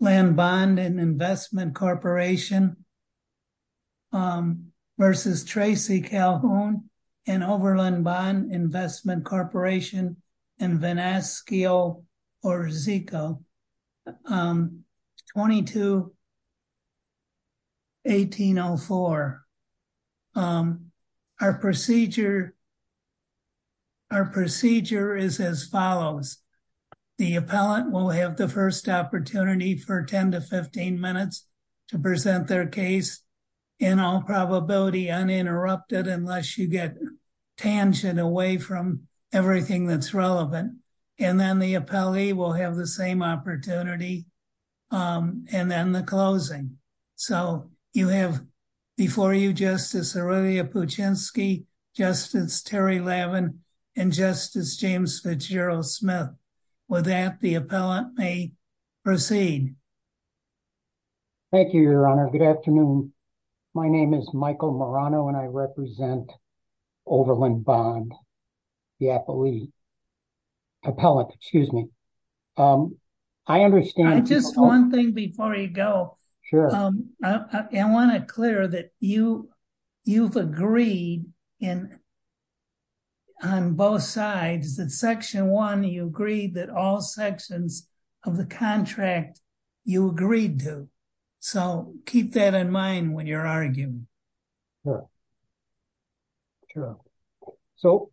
v. Calhoun & Overland Bond & Investment Corp. v. Vinascio or Zico, 22-1804. Our procedure is as follows. The appellant will have the first opportunity for 10 to 15 minutes to present their case in all probability uninterrupted unless you get tangent away from everything that's relevant. And then the appellee will have the same opportunity. And then the closing. So you have before you Justice Aurelia Puchinski, Justice Terry Levin, and Justice James Fitzgerald Smith. With that, the appellant may proceed. Thank you, Your Honor. Good afternoon. My name is Michael Marano and I represent Overland Bond, the appellate. Excuse me. I understand. Just one thing before you go. Sure. I want to clear that you, you've agreed in on both sides that Section 1, you agreed that all sections of the contract you agreed to. So keep that in mind when you're arguing. Sure. So,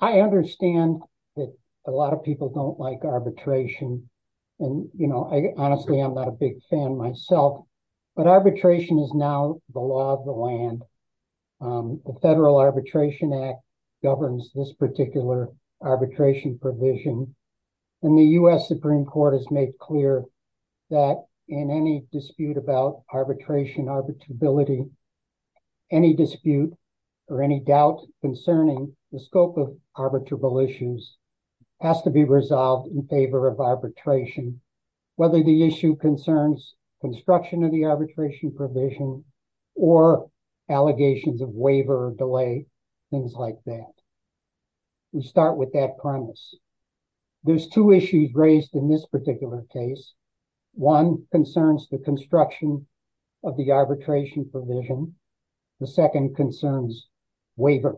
I understand that a lot of people don't like arbitration. And, you know, I honestly, I'm not a big fan myself, but arbitration is now the law of the land. The Federal Arbitration Act governs this particular arbitration provision. And the U.S. Supreme Court has made clear that in any dispute about arbitration, arbitrability, any dispute or any doubt concerning the scope of arbitrable issues has to be resolved in favor of arbitration. Whether the issue concerns construction of the arbitration provision or allegations of waiver or delay, things like that. We start with that premise. There's two issues raised in this particular case. One concerns the construction of the arbitration provision. The second concerns waiver.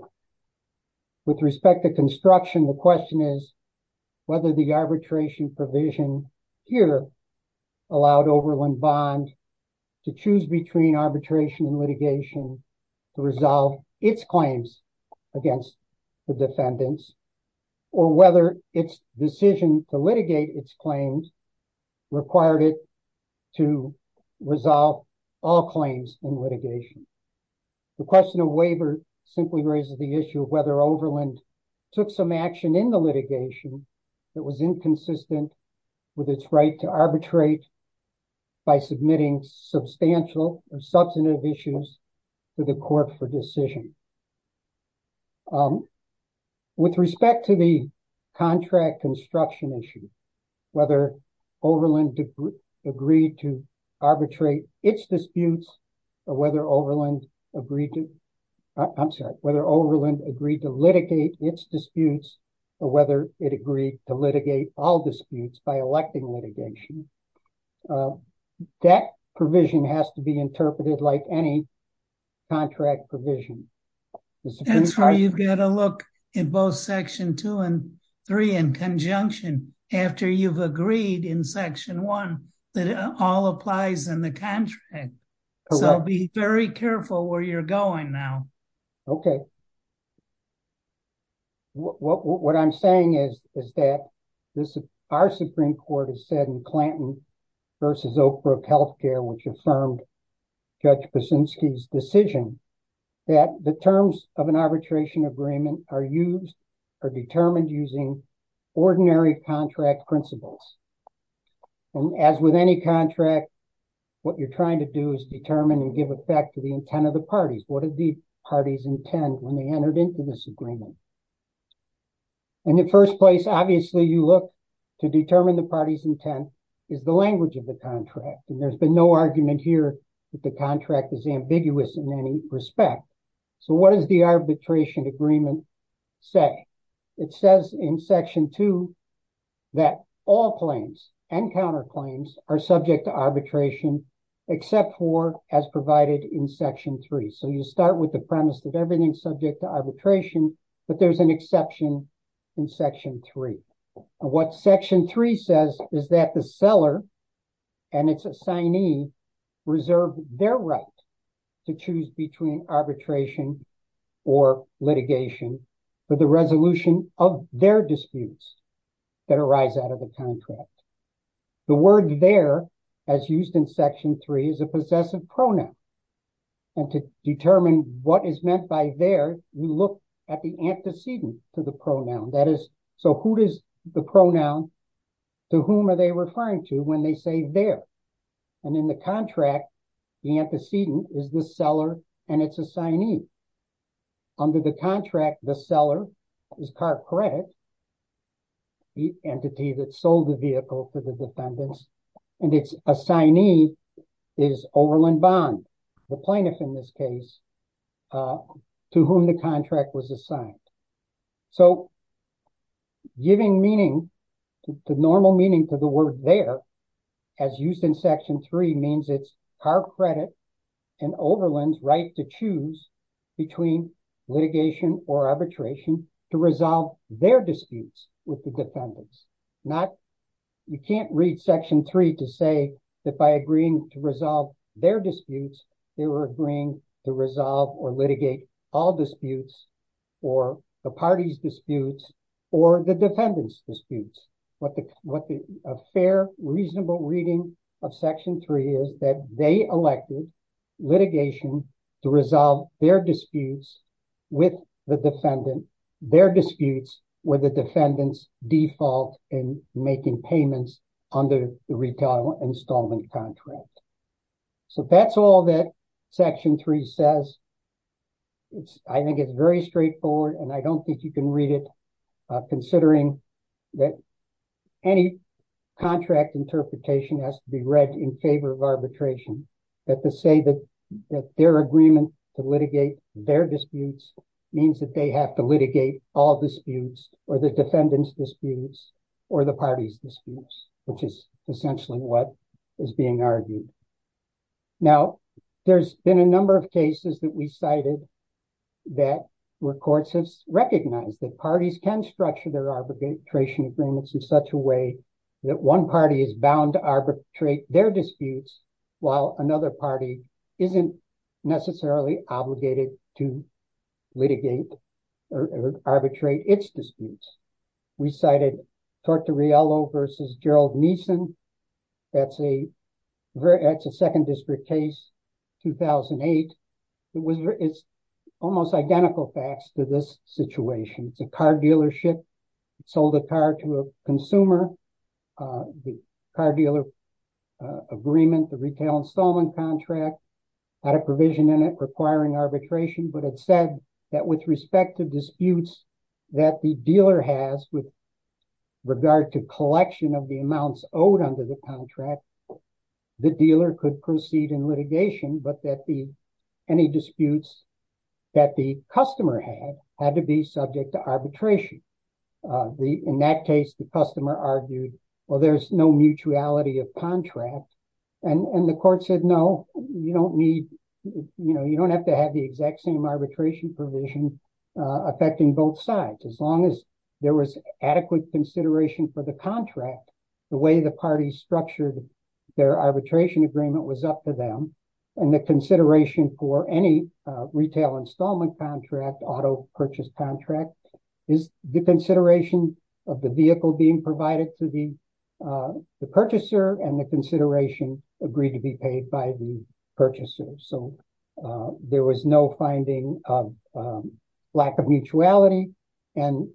With respect to construction, the question is whether the arbitration provision here allowed Oberlin Bond to choose between arbitration and litigation to resolve its claims against the defendants, or whether its decision to litigate its claims required it to resolve all claims in litigation. The question of waiver simply raises the issue of whether Oberlin took some action in the litigation that was inconsistent with its right to arbitrate by submitting substantial or substantive issues to the court for decision. With respect to the contract construction issue, whether Oberlin agreed to litigate its disputes or whether it agreed to litigate all disputes by electing litigation, that provision has to be interpreted like any contract provision. That's where you've got to look in both Section 2 and 3 in conjunction after you've agreed in Section 1 that it all applies in the contract. So be very careful where you're going now. Okay. So, what I'm saying is that our Supreme Court has said in Clanton v. Oak Brook Health Care, which affirmed Judge Buczynski's decision, that the terms of an arbitration agreement are determined using ordinary contract principles. And as with any contract, what you're trying to do is determine and give effect to the intent of the parties. What did the parties intend when they entered into this agreement? In the first place, obviously, you look to determine the party's intent is the language of the contract. And there's been no argument here that the contract is ambiguous in any respect. So what does the arbitration agreement say? It says in Section 2 that all claims and counterclaims are subject to arbitration except for as provided in Section 3. So you start with the premise that everything's subject to arbitration, but there's an exception in Section 3. What Section 3 says is that the seller and its assignee reserve their right to choose between arbitration or litigation for the resolution of their disputes that arise out of the contract. The word there, as used in Section 3, is a possessive pronoun. And to determine what is meant by their, you look at the antecedent to the pronoun. So who is the pronoun? To whom are they referring to when they say their? And in the contract, the antecedent is the seller and its assignee. Under the contract, the seller is car credit, the entity that sold the vehicle for the defendants. And its assignee is Oberlin Bond, the plaintiff in this case, to whom the contract was assigned. So giving meaning, the normal meaning for the word there, as used in Section 3, means it's car credit and Oberlin's right to choose between litigation or arbitration to resolve their disputes with the defendants. You can't read Section 3 to say that by agreeing to resolve their disputes, they were agreeing to resolve or litigate all disputes, or the party's disputes, or the defendant's disputes. A fair, reasonable reading of Section 3 is that they elected litigation to resolve their disputes with the defendant, their disputes with the defendant's default in making payments under the retail installment contract. So that's all that Section 3 says. I think it's very straightforward, and I don't think you can read it, considering that any contract interpretation has to be read in favor of arbitration. Now, there's been a number of cases that we cited that where courts have recognized that parties can structure their arbitration agreements in such a way that one party is bound to arbitrate their disputes, while another party is bound to arbitrate their disputes. While another party isn't necessarily obligated to litigate or arbitrate its disputes. We cited Tortorello v. Gerald Neeson. That's a second district case, 2008. It's almost identical facts to this situation. It's a car dealership. It sold a car to a consumer. The car dealer agreement, the retail installment contract, had a provision in it requiring arbitration. But it said that with respect to disputes that the dealer has with regard to collection of the amounts owed under the contract, the dealer could proceed in litigation, but that any disputes that the customer had had to be subject to arbitration. In that case, the customer argued, well, there's no mutuality of contracts. And the court said, no, you don't need, you know, you don't have to have the exact same arbitration provision affecting both sides. As long as there was adequate consideration for the contract, the way the party structured their arbitration agreement was up to them. And the consideration for any retail installment contract, auto purchase contract, is the consideration of the vehicle being provided to the purchaser and the consideration agreed to be paid by the purchaser. So there was no finding of lack of mutuality. And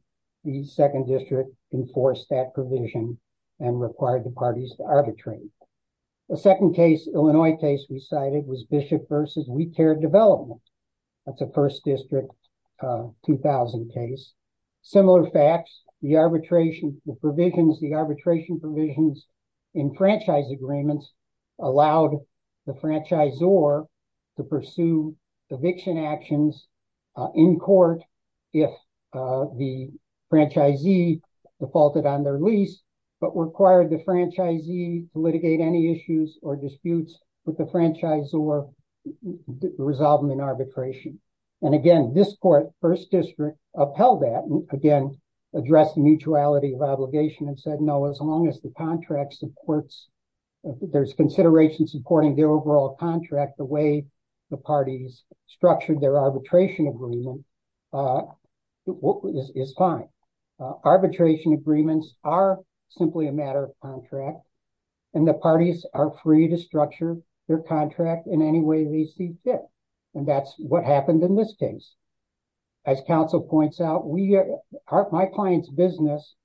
the second district enforced that provision and required the parties to arbitrate. The second case, Illinois case we cited, was Bishop versus We Care Development. That's a First District 2000 case. Similar facts, the arbitration provisions in franchise agreements allowed the franchisor to pursue eviction actions in court if the franchisee defaulted on their lease, but required the franchisee to litigate any issues or disputes with the franchisor to resolve them in arbitration. And again, this court, First District, upheld that and again, addressed the mutuality of obligation and said, no, as long as the contract supports, there's consideration supporting the overall contract, the way the parties structured their arbitration agreement is fine. Arbitration agreements are simply a matter of contract. And the parties are free to structure their contract in any way they see fit. And that's what happened in this case. As Council points out, my client's business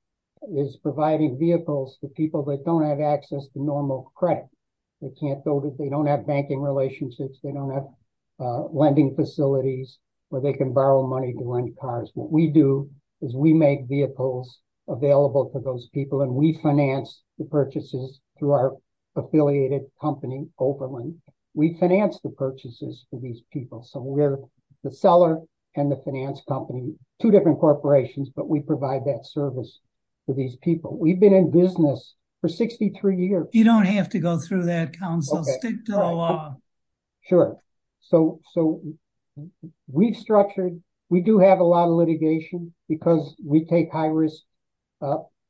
is providing vehicles to people that don't have access to normal credit. They can't build it, they don't have banking relationships, they don't have lending facilities where they can borrow money to lend cars. What we do is we make vehicles available to those people and we finance the purchases through our affiliated company, Oberlin. We finance the purchases for these people. So we're the seller and the finance company, two different corporations, but we provide that service to these people. We've been in business for 63 years. You don't have to go through that, Council. Stick to the law. Sure. So we've structured, we do have a lot of litigation because we take high risk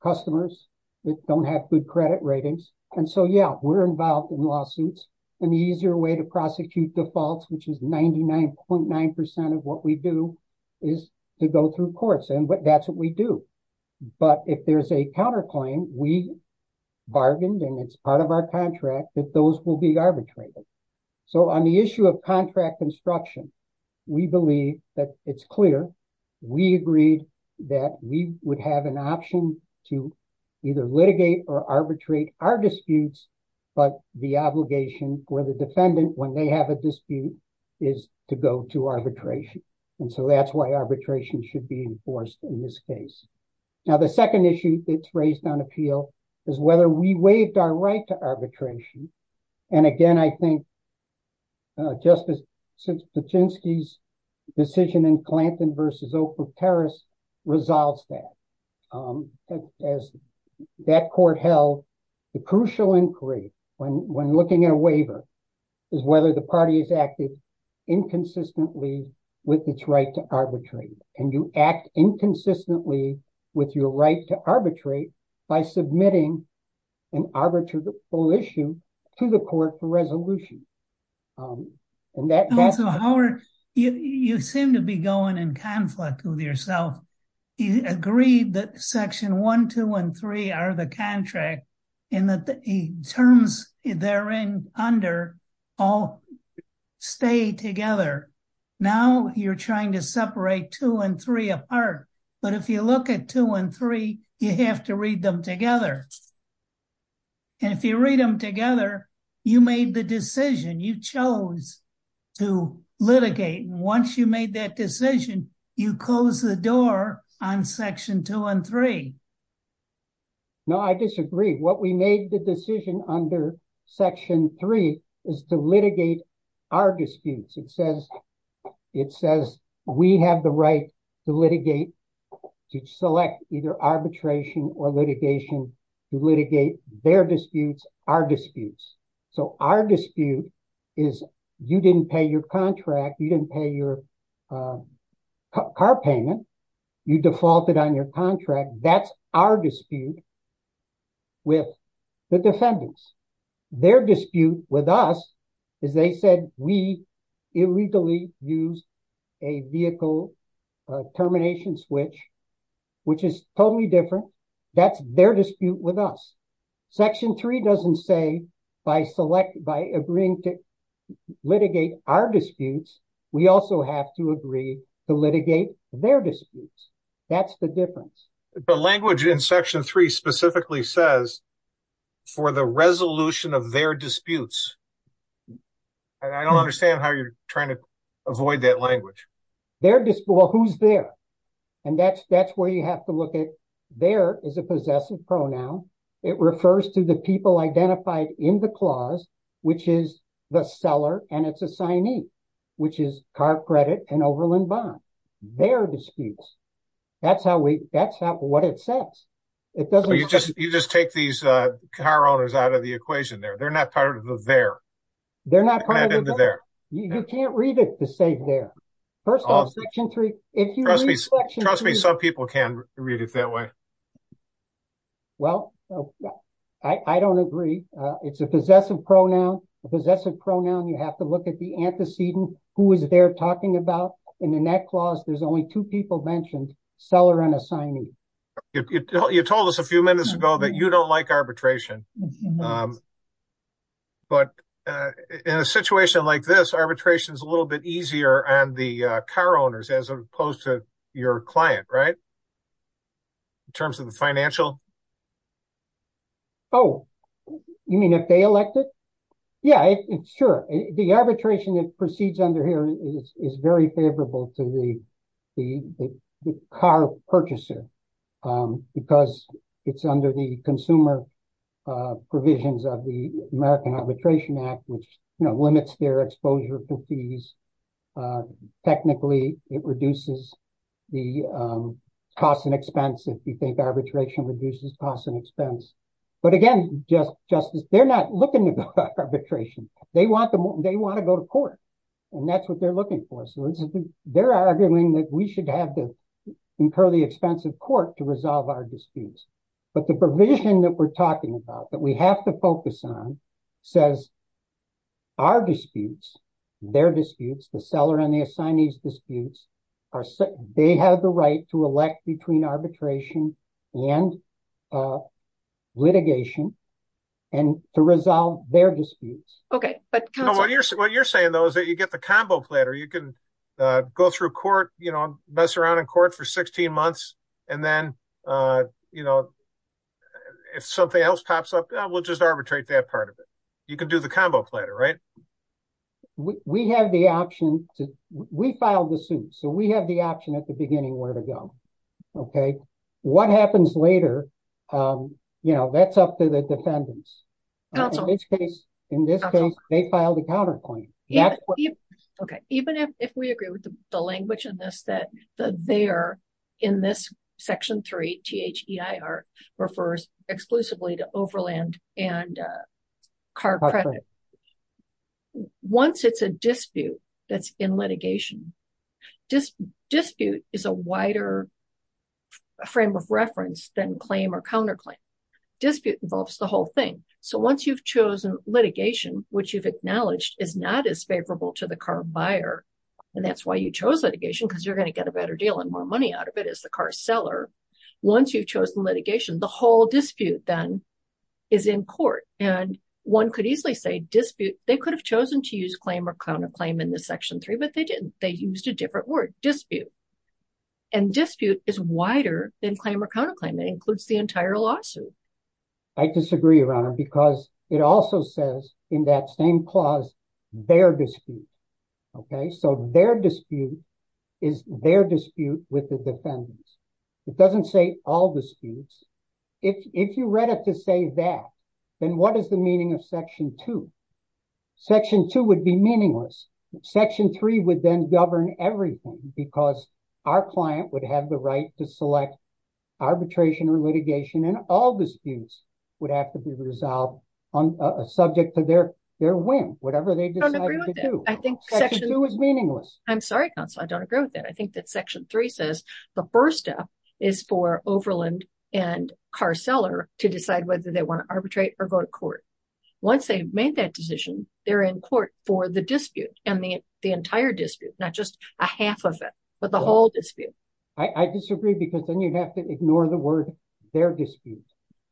customers that don't have good credit ratings. And so, yeah, we're involved in lawsuits and the easier way to prosecute defaults, which is 99.9% of what we do is to go through courts. And that's what we do. But if there's a counterclaim, we bargained and it's part of our contract that those will be arbitrated. So on the issue of contract construction, we believe that it's clear. We agreed that we would have an option to either litigate or arbitrate our disputes. But the obligation for the defendant when they have a dispute is to go to arbitration. And so that's why arbitration should be enforced in this case. Now, the second issue that's raised on appeal is whether we waived our right to arbitration. And again, I think. Justice Pachinksi's decision in Clanton versus Oak Brook Terrace resolves that. As that court held, the crucial inquiry when looking at a waiver is whether the party is acting inconsistently with its right to arbitrate. And you act inconsistently with your right to arbitrate by submitting an arbitrable issue to the court for resolution. Also Howard, you seem to be going in conflict with yourself. You agreed that Section 1, 2 and 3 are the contract and that the terms therein under all stay together. Now you're trying to separate 2 and 3 apart. But if you look at 2 and 3, you have to read them together. And if you read them together, you made the decision, you chose to litigate. Once you made that decision, you closed the door on Section 2 and 3. No, I disagree. What we made the decision under Section 3 is to litigate our disputes. It says we have the right to litigate, to select either arbitration or litigation to litigate their disputes, our disputes. So our dispute is you didn't pay your contract, you didn't pay your car payment, you defaulted on your contract. That's our dispute with the defendants. Their dispute with us is they said we illegally used a vehicle termination switch, which is totally different. That's their dispute with us. Section 3 doesn't say by agreeing to litigate our disputes, we also have to agree to litigate their disputes. That's the difference. The language in Section 3 specifically says for the resolution of their disputes. I don't understand how you're trying to avoid that language. Their dispute, well, who's there? And that's where you have to look at their is a possessive pronoun. It refers to the people identified in the clause, which is the seller and its assignee, which is car credit and overland bond. Their disputes. That's what it says. You just take these car owners out of the equation there. They're not part of the there. They're not part of the there. You can't read it to say there. First of all, Section 3. Trust me, some people can read it that way. Well, I don't agree. It's a possessive pronoun. A possessive pronoun, you have to look at the antecedent, who is there talking about. And in that clause, there's only 2 people mentioned seller and assignee. You told us a few minutes ago that you don't like arbitration. But in a situation like this, arbitration is a little bit easier on the car owners as opposed to your client, right? In terms of the financial. Oh, you mean if they elected? Yeah, sure. The arbitration that proceeds under here is very favorable to the car purchaser. Because it's under the consumer provisions of the American Arbitration Act, which limits their exposure for fees. Technically, it reduces the cost and expense if you think arbitration reduces cost and expense. But again, just they're not looking at arbitration. They want to go to court. And that's what they're looking for. So they're arguing that we should have to incur the expense of court to resolve our disputes. But the provision that we're talking about that we have to focus on says our disputes, their disputes, the seller and the assignee's disputes, they have the right to elect between arbitration and litigation and to resolve their disputes. OK, but what you're saying, though, is that you get the combo platter. You can go through court, you know, mess around in court for 16 months. And then, you know, if something else pops up, we'll just arbitrate that part of it. You can do the combo platter, right? We have the option. We filed the suit. So we have the option at the beginning where to go. OK, what happens later? You know, that's up to the defendants. In this case, they filed a counterclaim. OK, even if we agree with the language in this, that they are in this Section 3. T.H.E.I.R. refers exclusively to overland and car credit. Once it's a dispute that's in litigation, dispute is a wider frame of reference than claim or counterclaim. Dispute involves the whole thing. So once you've chosen litigation, which you've acknowledged is not as favorable to the car buyer, and that's why you chose litigation, because you're going to get a better deal and more money out of it as the car seller. Once you've chosen litigation, the whole dispute then is in court. And one could easily say dispute. They could have chosen to use claim or counterclaim in this Section 3, but they didn't. They used a different word, dispute. And dispute is wider than claim or counterclaim. It includes the entire lawsuit. I disagree, Your Honor, because it also says in that same clause, their dispute. OK, so their dispute is their dispute with the defendants. It doesn't say all disputes. If you read it to say that, then what is the meaning of Section 2? Section 2 would be meaningless. Section 3 would then govern everything because our client would have the right to select arbitration or litigation, and all disputes would have to be resolved subject to their whim, whatever they decide to do. Section 2 is meaningless. I'm sorry, counsel, I don't agree with that. I think that Section 3 says the first step is for Overland and car seller to decide whether they want to arbitrate or go to court. Once they've made that decision, they're in court for the dispute and the entire dispute, not just a half of it, but the whole dispute. I disagree because then you have to ignore the word their dispute.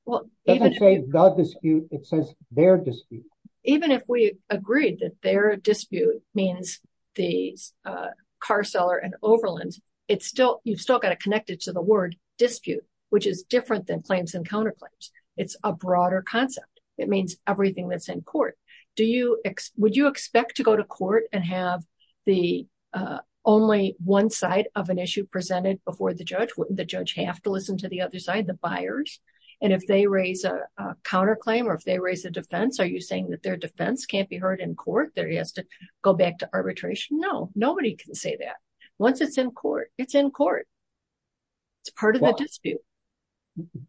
It doesn't say the dispute. It says their dispute. Even if we agreed that their dispute means the car seller and Overland, you've still got to connect it to the word dispute, which is different than claims and counterclaims. It's a broader concept. It means everything that's in court. Would you expect to go to court and have only one side of an issue presented before the judge? Wouldn't the judge have to listen to the other side, the buyers? And if they raise a counterclaim or if they raise a defense, are you saying that their defense can't be heard in court, that it has to go back to arbitration? No, nobody can say that. Once it's in court, it's in court. It's part of the dispute.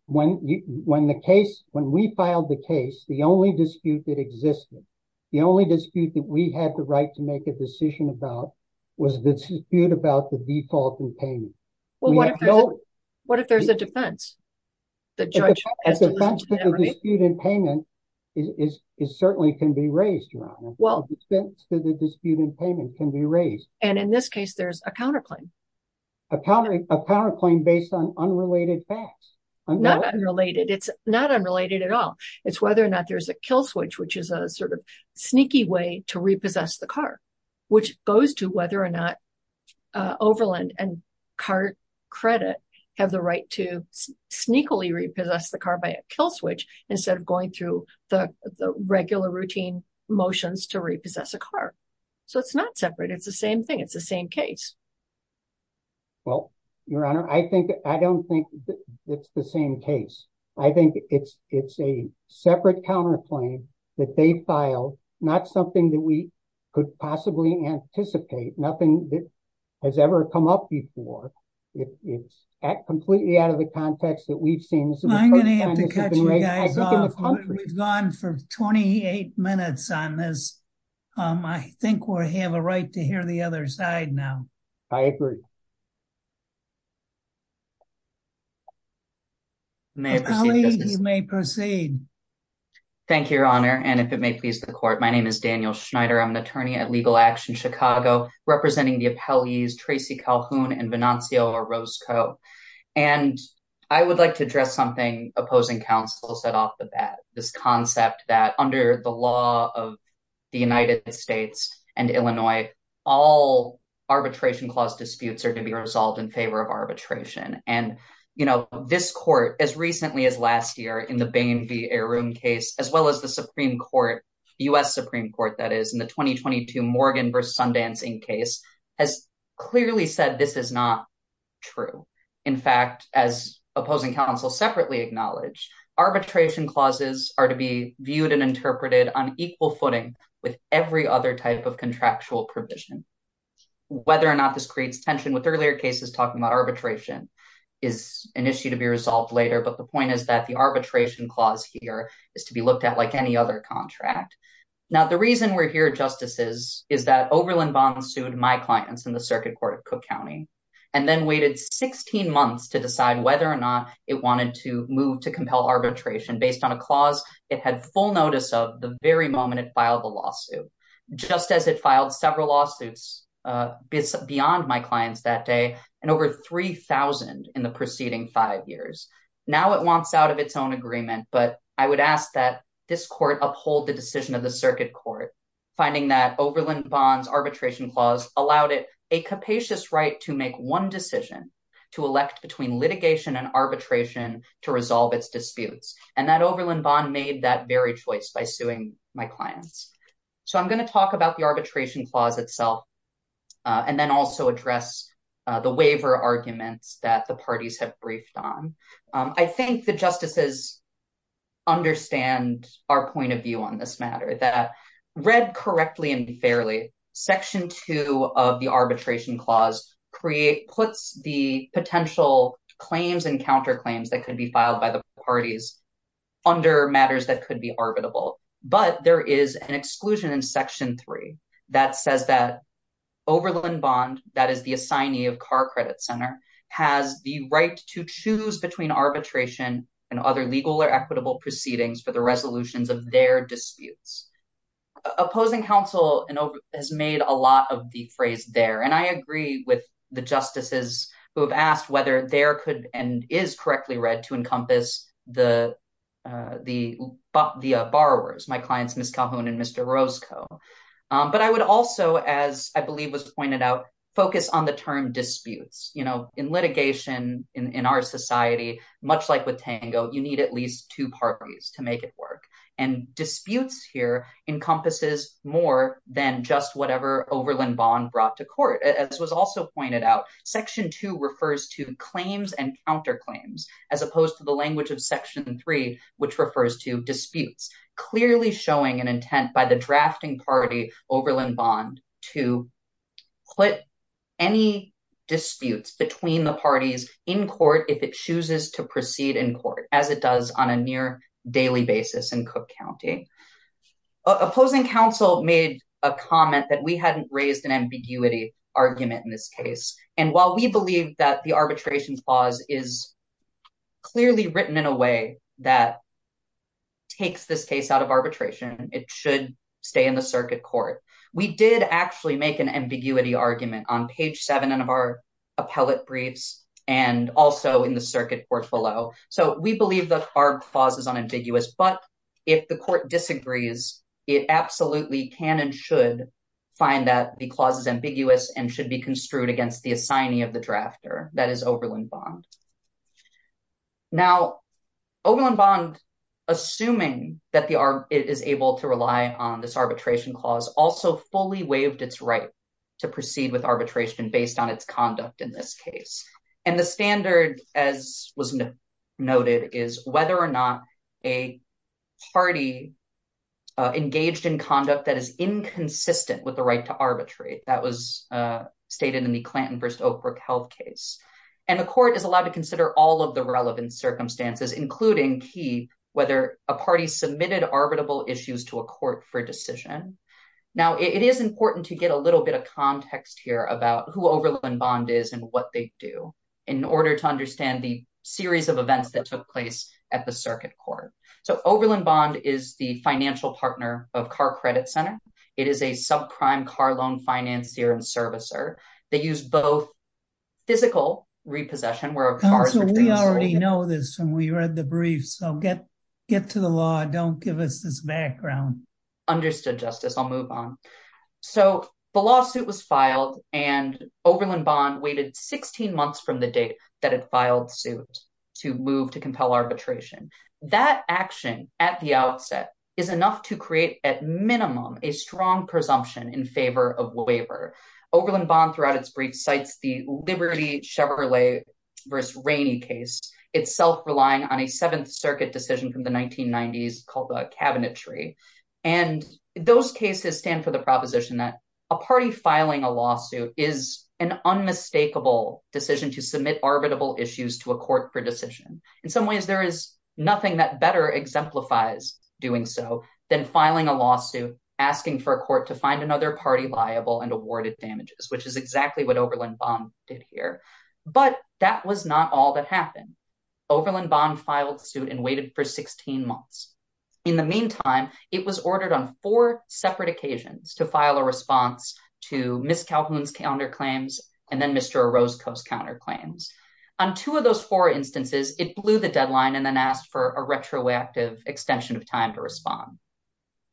When we filed the case, the only dispute that existed, the only dispute that we had the right to make a decision about, was the dispute about the default in payment. Well, what if there's a defense? The judge has to listen to the other side. The defense to the dispute in payment certainly can be raised, Your Honor. The defense to the dispute in payment can be raised. And in this case, there's a counterclaim. A counterclaim based on unrelated facts. Not unrelated. It's not unrelated at all. It's whether or not there's a kill switch, which is a sort of sneaky way to repossess the car, which goes to whether or not Overland and Cart Credit have the right to sneakily repossess the car by a kill switch instead of going through the regular routine motions to repossess a car. So it's not separate. It's the same thing. It's the same case. Well, Your Honor, I don't think it's the same case. I think it's a separate counterclaim that they filed. Not something that we could possibly anticipate. Nothing that has ever come up before. It's completely out of the context that we've seen. I'm going to have to cut you guys off. We've gone for 28 minutes on this. I think we have a right to hear the other side now. I agree. You may proceed. Thank you, Your Honor. And if it may please the court, my name is Daniel Schneider. I'm an attorney at Legal Action Chicago, representing the appellees Tracy Calhoun and Vinancio Orozco. And I would like to address something opposing counsel said off the bat. This concept that under the law of the United States and Illinois, all arbitration clause disputes are to be resolved in favor of arbitration. And, you know, this court, as recently as last year in the Bain v. Arun case, as well as the Supreme Court, U.S. Supreme Court, that is, in the 2022 Morgan v. Sundance Inc. case, has clearly said this is not true. In fact, as opposing counsel separately acknowledge, arbitration clauses are to be viewed and interpreted on equal footing with every other type of contractual provision. Whether or not this creates tension with earlier cases talking about arbitration is an issue to be resolved later. But the point is that the arbitration clause here is to be looked at like any other contract. Now, the reason we're here, justices, is that Oberlin Bond sued my clients in the circuit court of Cook County and then waited 16 months to decide whether or not it wanted to move to compel arbitration. Based on a clause it had full notice of the very moment it filed the lawsuit, just as it filed several lawsuits beyond my clients that day and over 3,000 in the preceding five years. Now it wants out of its own agreement. But I would ask that this court uphold the decision of the circuit court, finding that Oberlin Bond's arbitration clause allowed it a capacious right to make one decision, to elect between litigation and arbitration to resolve its disputes. And that Oberlin Bond made that very choice by suing my clients. So I'm going to talk about the arbitration clause itself and then also address the waiver arguments that the parties have briefed on. I think the justices understand our point of view on this matter, that read correctly and fairly, Section 2 of the arbitration clause puts the potential claims and counterclaims that could be filed by the parties under matters that could be arbitrable. But there is an exclusion in Section 3 that says that Oberlin Bond, that is the assignee of Carr Credit Center, has the right to choose between arbitration and other legal or equitable proceedings for the resolutions of their disputes. Opposing counsel has made a lot of the phrase there. But I would also, as I believe was pointed out, focus on the term disputes. You know, in litigation in our society, much like with Tango, you need at least two parties to make it work. And disputes here encompasses more than just whatever Oberlin Bond brought to court. As was also pointed out, Section 2 refers to claims and counterclaims, as opposed to the language of Section 3, which refers to disputes. Clearly showing an intent by the drafting party, Oberlin Bond, to put any disputes between the parties in court, if it chooses to proceed in court, as it does on a near daily basis in Cook County. Opposing counsel made a comment that we hadn't raised an ambiguity argument in this case. And while we believe that the arbitration clause is clearly written in a way that takes this case out of arbitration, it should stay in the circuit court. We did actually make an ambiguity argument on page 7 of our appellate briefs and also in the circuit court below. So we believe that our clause is unambiguous, but if the court disagrees, it absolutely can and should find that the clause is ambiguous and should be construed against the assignee of the drafter. That is Oberlin Bond. Now, Oberlin Bond, assuming that it is able to rely on this arbitration clause, also fully waived its right to proceed with arbitration based on its conduct in this case. And the standard, as was noted, is whether or not a party engaged in conduct that is inconsistent with the right to arbitrate. That was stated in the Clanton v. Oakbrook health case. And the court is allowed to consider all of the relevant circumstances, including key whether a party submitted arbitrable issues to a court for decision. Now, it is important to get a little bit of context here about who Oberlin Bond is and what they do in order to understand the series of events that took place at the circuit court. So Oberlin Bond is the financial partner of Carr Credit Center. It is a subprime car loan financier and servicer. They use both physical repossession, where a car is retrieved… Counsel, we already know this and we read the brief, so get to the law and don't give us this background. Understood, Justice. I'll move on. So the lawsuit was filed and Oberlin Bond waited 16 months from the date that it filed suit to move to compel arbitration. That action at the outset is enough to create, at minimum, a strong presumption in favor of waiver. Oberlin Bond, throughout its brief, cites the Liberty Chevrolet v. Rainey case, itself relying on a Seventh Circuit decision from the 1990s called the Cabinet Tree. And those cases stand for the proposition that a party filing a lawsuit is an unmistakable decision to submit arbitrable issues to a court for decision. In some ways, there is nothing that better exemplifies doing so than filing a lawsuit, asking for a court to find another party liable and awarded damages, which is exactly what Oberlin Bond did here. But that was not all that happened. Oberlin Bond filed suit and waited for 16 months. In the meantime, it was ordered on four separate occasions to file a response to Ms. Calhoun's counterclaims and then Mr. Orozco's counterclaims. On two of those four instances, it blew the deadline and then asked for a retroactive extension of time to respond.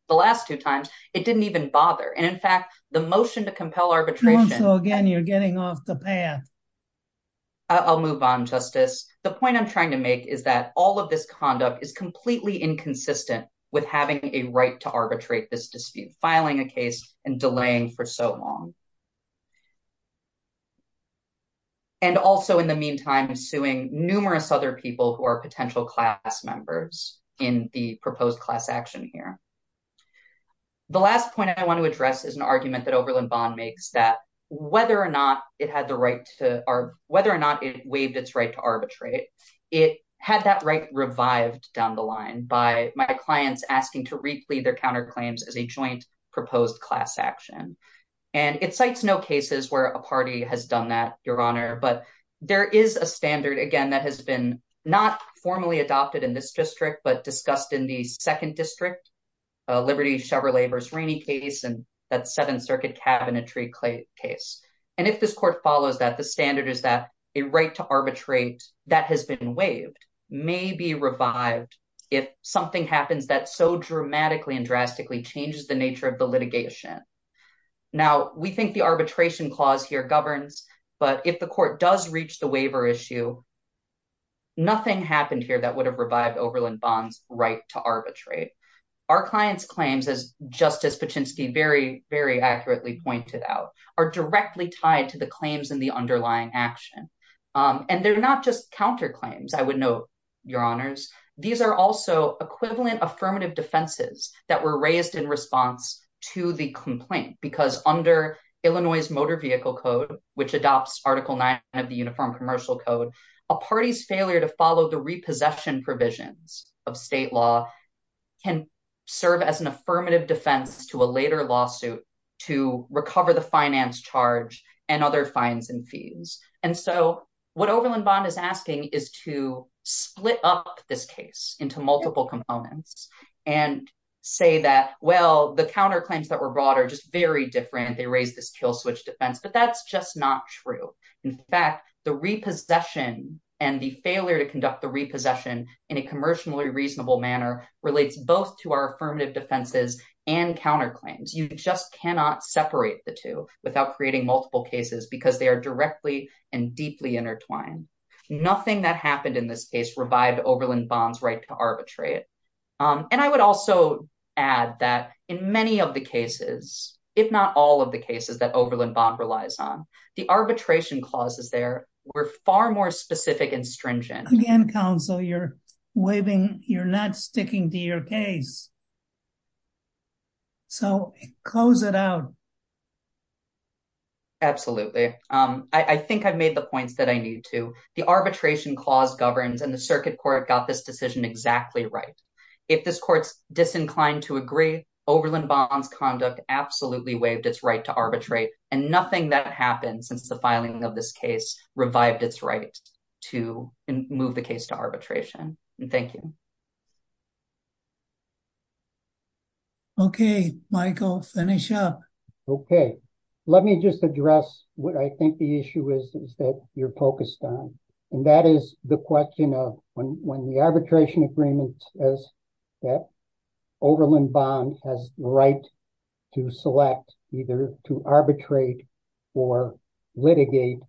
The last two times, it didn't even bother. And in fact, the motion to compel arbitration- So again, you're getting off the path. I'll move on, Justice. The point I'm trying to make is that all of this conduct is completely inconsistent with having a right to arbitrate this dispute, filing a case and delaying for so long. And also, in the meantime, suing numerous other people who are potential class members in the proposed class action here. The last point I want to address is an argument that Oberlin Bond makes that whether or not it had the right to- whether or not it waived its right to arbitrate, it had that right revived down the line by my clients asking to reclaim their counterclaims as a joint proposed class action. And it cites no cases where a party has done that, Your Honor. But there is a standard, again, that has been not formally adopted in this district, but discussed in the second district. Liberty Chevrolet versus Rainey case and that Seventh Circuit cabinetry case. And if this court follows that, the standard is that a right to arbitrate that has been waived may be revived if something happens that so dramatically and drastically changes the nature of the litigation. Now, we think the arbitration clause here governs, but if the court does reach the waiver issue, nothing happened here that would have revived Oberlin Bond's right to arbitrate. Our clients' claims, as Justice Paczynski very, very accurately pointed out, are directly tied to the claims in the underlying action. And they're not just counterclaims, I would note, Your Honors. These are also equivalent affirmative defenses that were raised in response to the complaint because under Illinois's Motor Vehicle Code, which adopts Article 9 of the Uniform Commercial Code, a party's failure to follow the repossession provisions of state law can serve as an affirmative defense to a later lawsuit to recover the finance charge and other fines and fees. And so what Oberlin Bond is asking is to split up this case into multiple components and say that, well, the counterclaims that were brought are just very different. They raise this kill switch defense, but that's just not true. In fact, the repossession and the failure to conduct the repossession in a commercially reasonable manner relates both to our affirmative defenses and counterclaims. You just cannot separate the two without creating multiple cases because they are directly and deeply intertwined. Nothing that happened in this case revived Oberlin Bond's right to arbitrate. And I would also add that in many of the cases, if not all of the cases that Oberlin Bond relies on, the arbitration clauses there were far more specific and stringent. Again, counsel, you're waving, you're not sticking to your case. So close it out. Absolutely. I think I've made the points that I need to. The arbitration clause governs and the circuit court got this decision exactly right. If this court's disinclined to agree, Oberlin Bond's conduct absolutely waived its right to arbitrate and nothing that happened since the filing of this case revived its right to move the case to arbitration. Thank you. Okay, Michael, finish up. Okay, let me just address what I think the issue is that you're focused on. And that is the question of when the arbitration agreement says that Oberlin Bond has the right to select either to arbitrate or litigate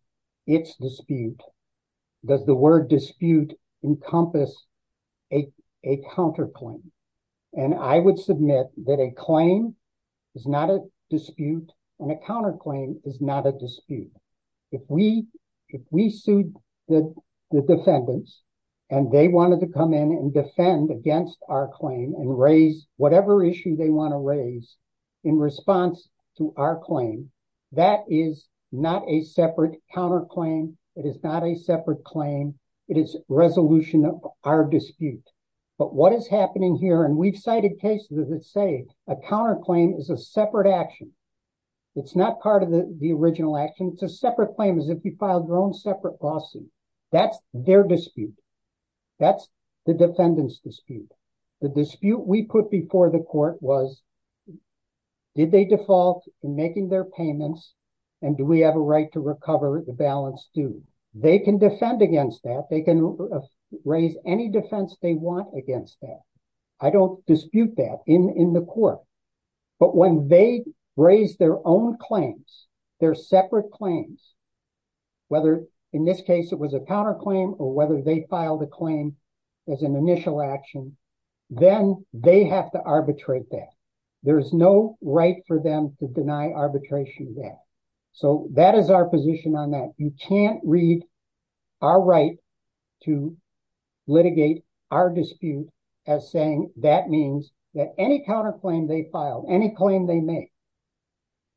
its dispute. Does the word dispute encompass a counterclaim? And I would submit that a claim is not a dispute and a counterclaim is not a dispute. If we sued the defendants and they wanted to come in and defend against our claim and raise whatever issue they want to raise in response to our claim, that is not a separate counterclaim. It is not a separate claim. It is resolution of our dispute. But what is happening here, and we've cited cases that say a counterclaim is a separate action. It's not part of the original action. It's a separate claim as if you filed your own separate lawsuit. That's their dispute. That's the defendant's dispute. The dispute we put before the court was, did they default in making their payments? And do we have a right to recover the balance due? They can defend against that. They can raise any defense they want against that. I don't dispute that in the court, but when they raise their own claims, their separate claims, whether in this case it was a counterclaim or whether they filed a claim as an initial action, then they have to arbitrate that. There's no right for them to deny arbitration there. So that is our position on that. You can't read our right to litigate our dispute as saying that means that any counterclaim they filed, any claim they make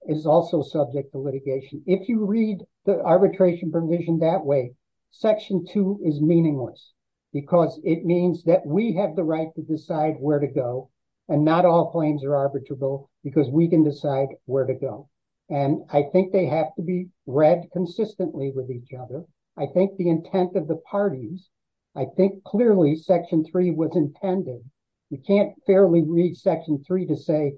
is also subject to litigation. If you read the arbitration provision that way, Section 2 is meaningless because it means that we have the right to decide where to go and not all claims are arbitrable because we can decide where to go. And I think they have to be read consistently with each other. I think the intent of the parties, I think clearly Section 3 was intended. You can't fairly read Section 3 to say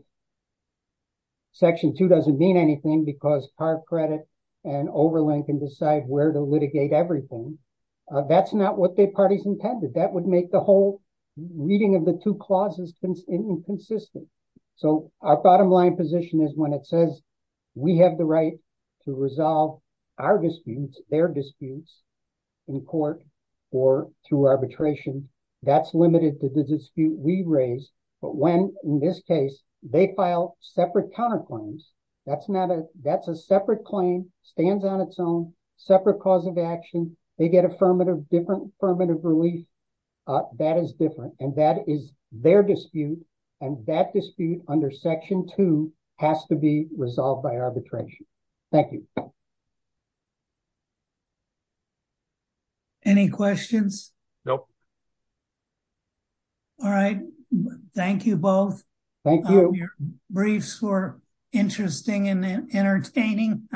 Section 2 doesn't mean anything because part credit and overland can decide where to litigate everything. That's not what the parties intended. That would make the whole reading of the two clauses inconsistent. So our bottom line position is when it says we have the right to resolve our disputes, their disputes in court or through arbitration, that's limited to the dispute we raise. But when, in this case, they file separate counterclaims, that's a separate claim, stands on its own, separate cause of action. They get affirmative, different affirmative relief. That is different and that is their dispute and that dispute under Section 2 has to be resolved by arbitration. Thank you. Any questions? Nope. All right. Thank you both. Thank you. Your briefs were interesting and entertaining.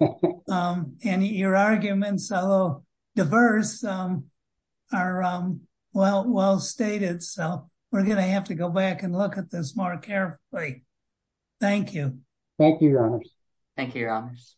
And your arguments, although diverse, are well stated. So we're going to have to go back and look at this more carefully. Thank you. Thank you, Your Honors. Thank you, Your Honors.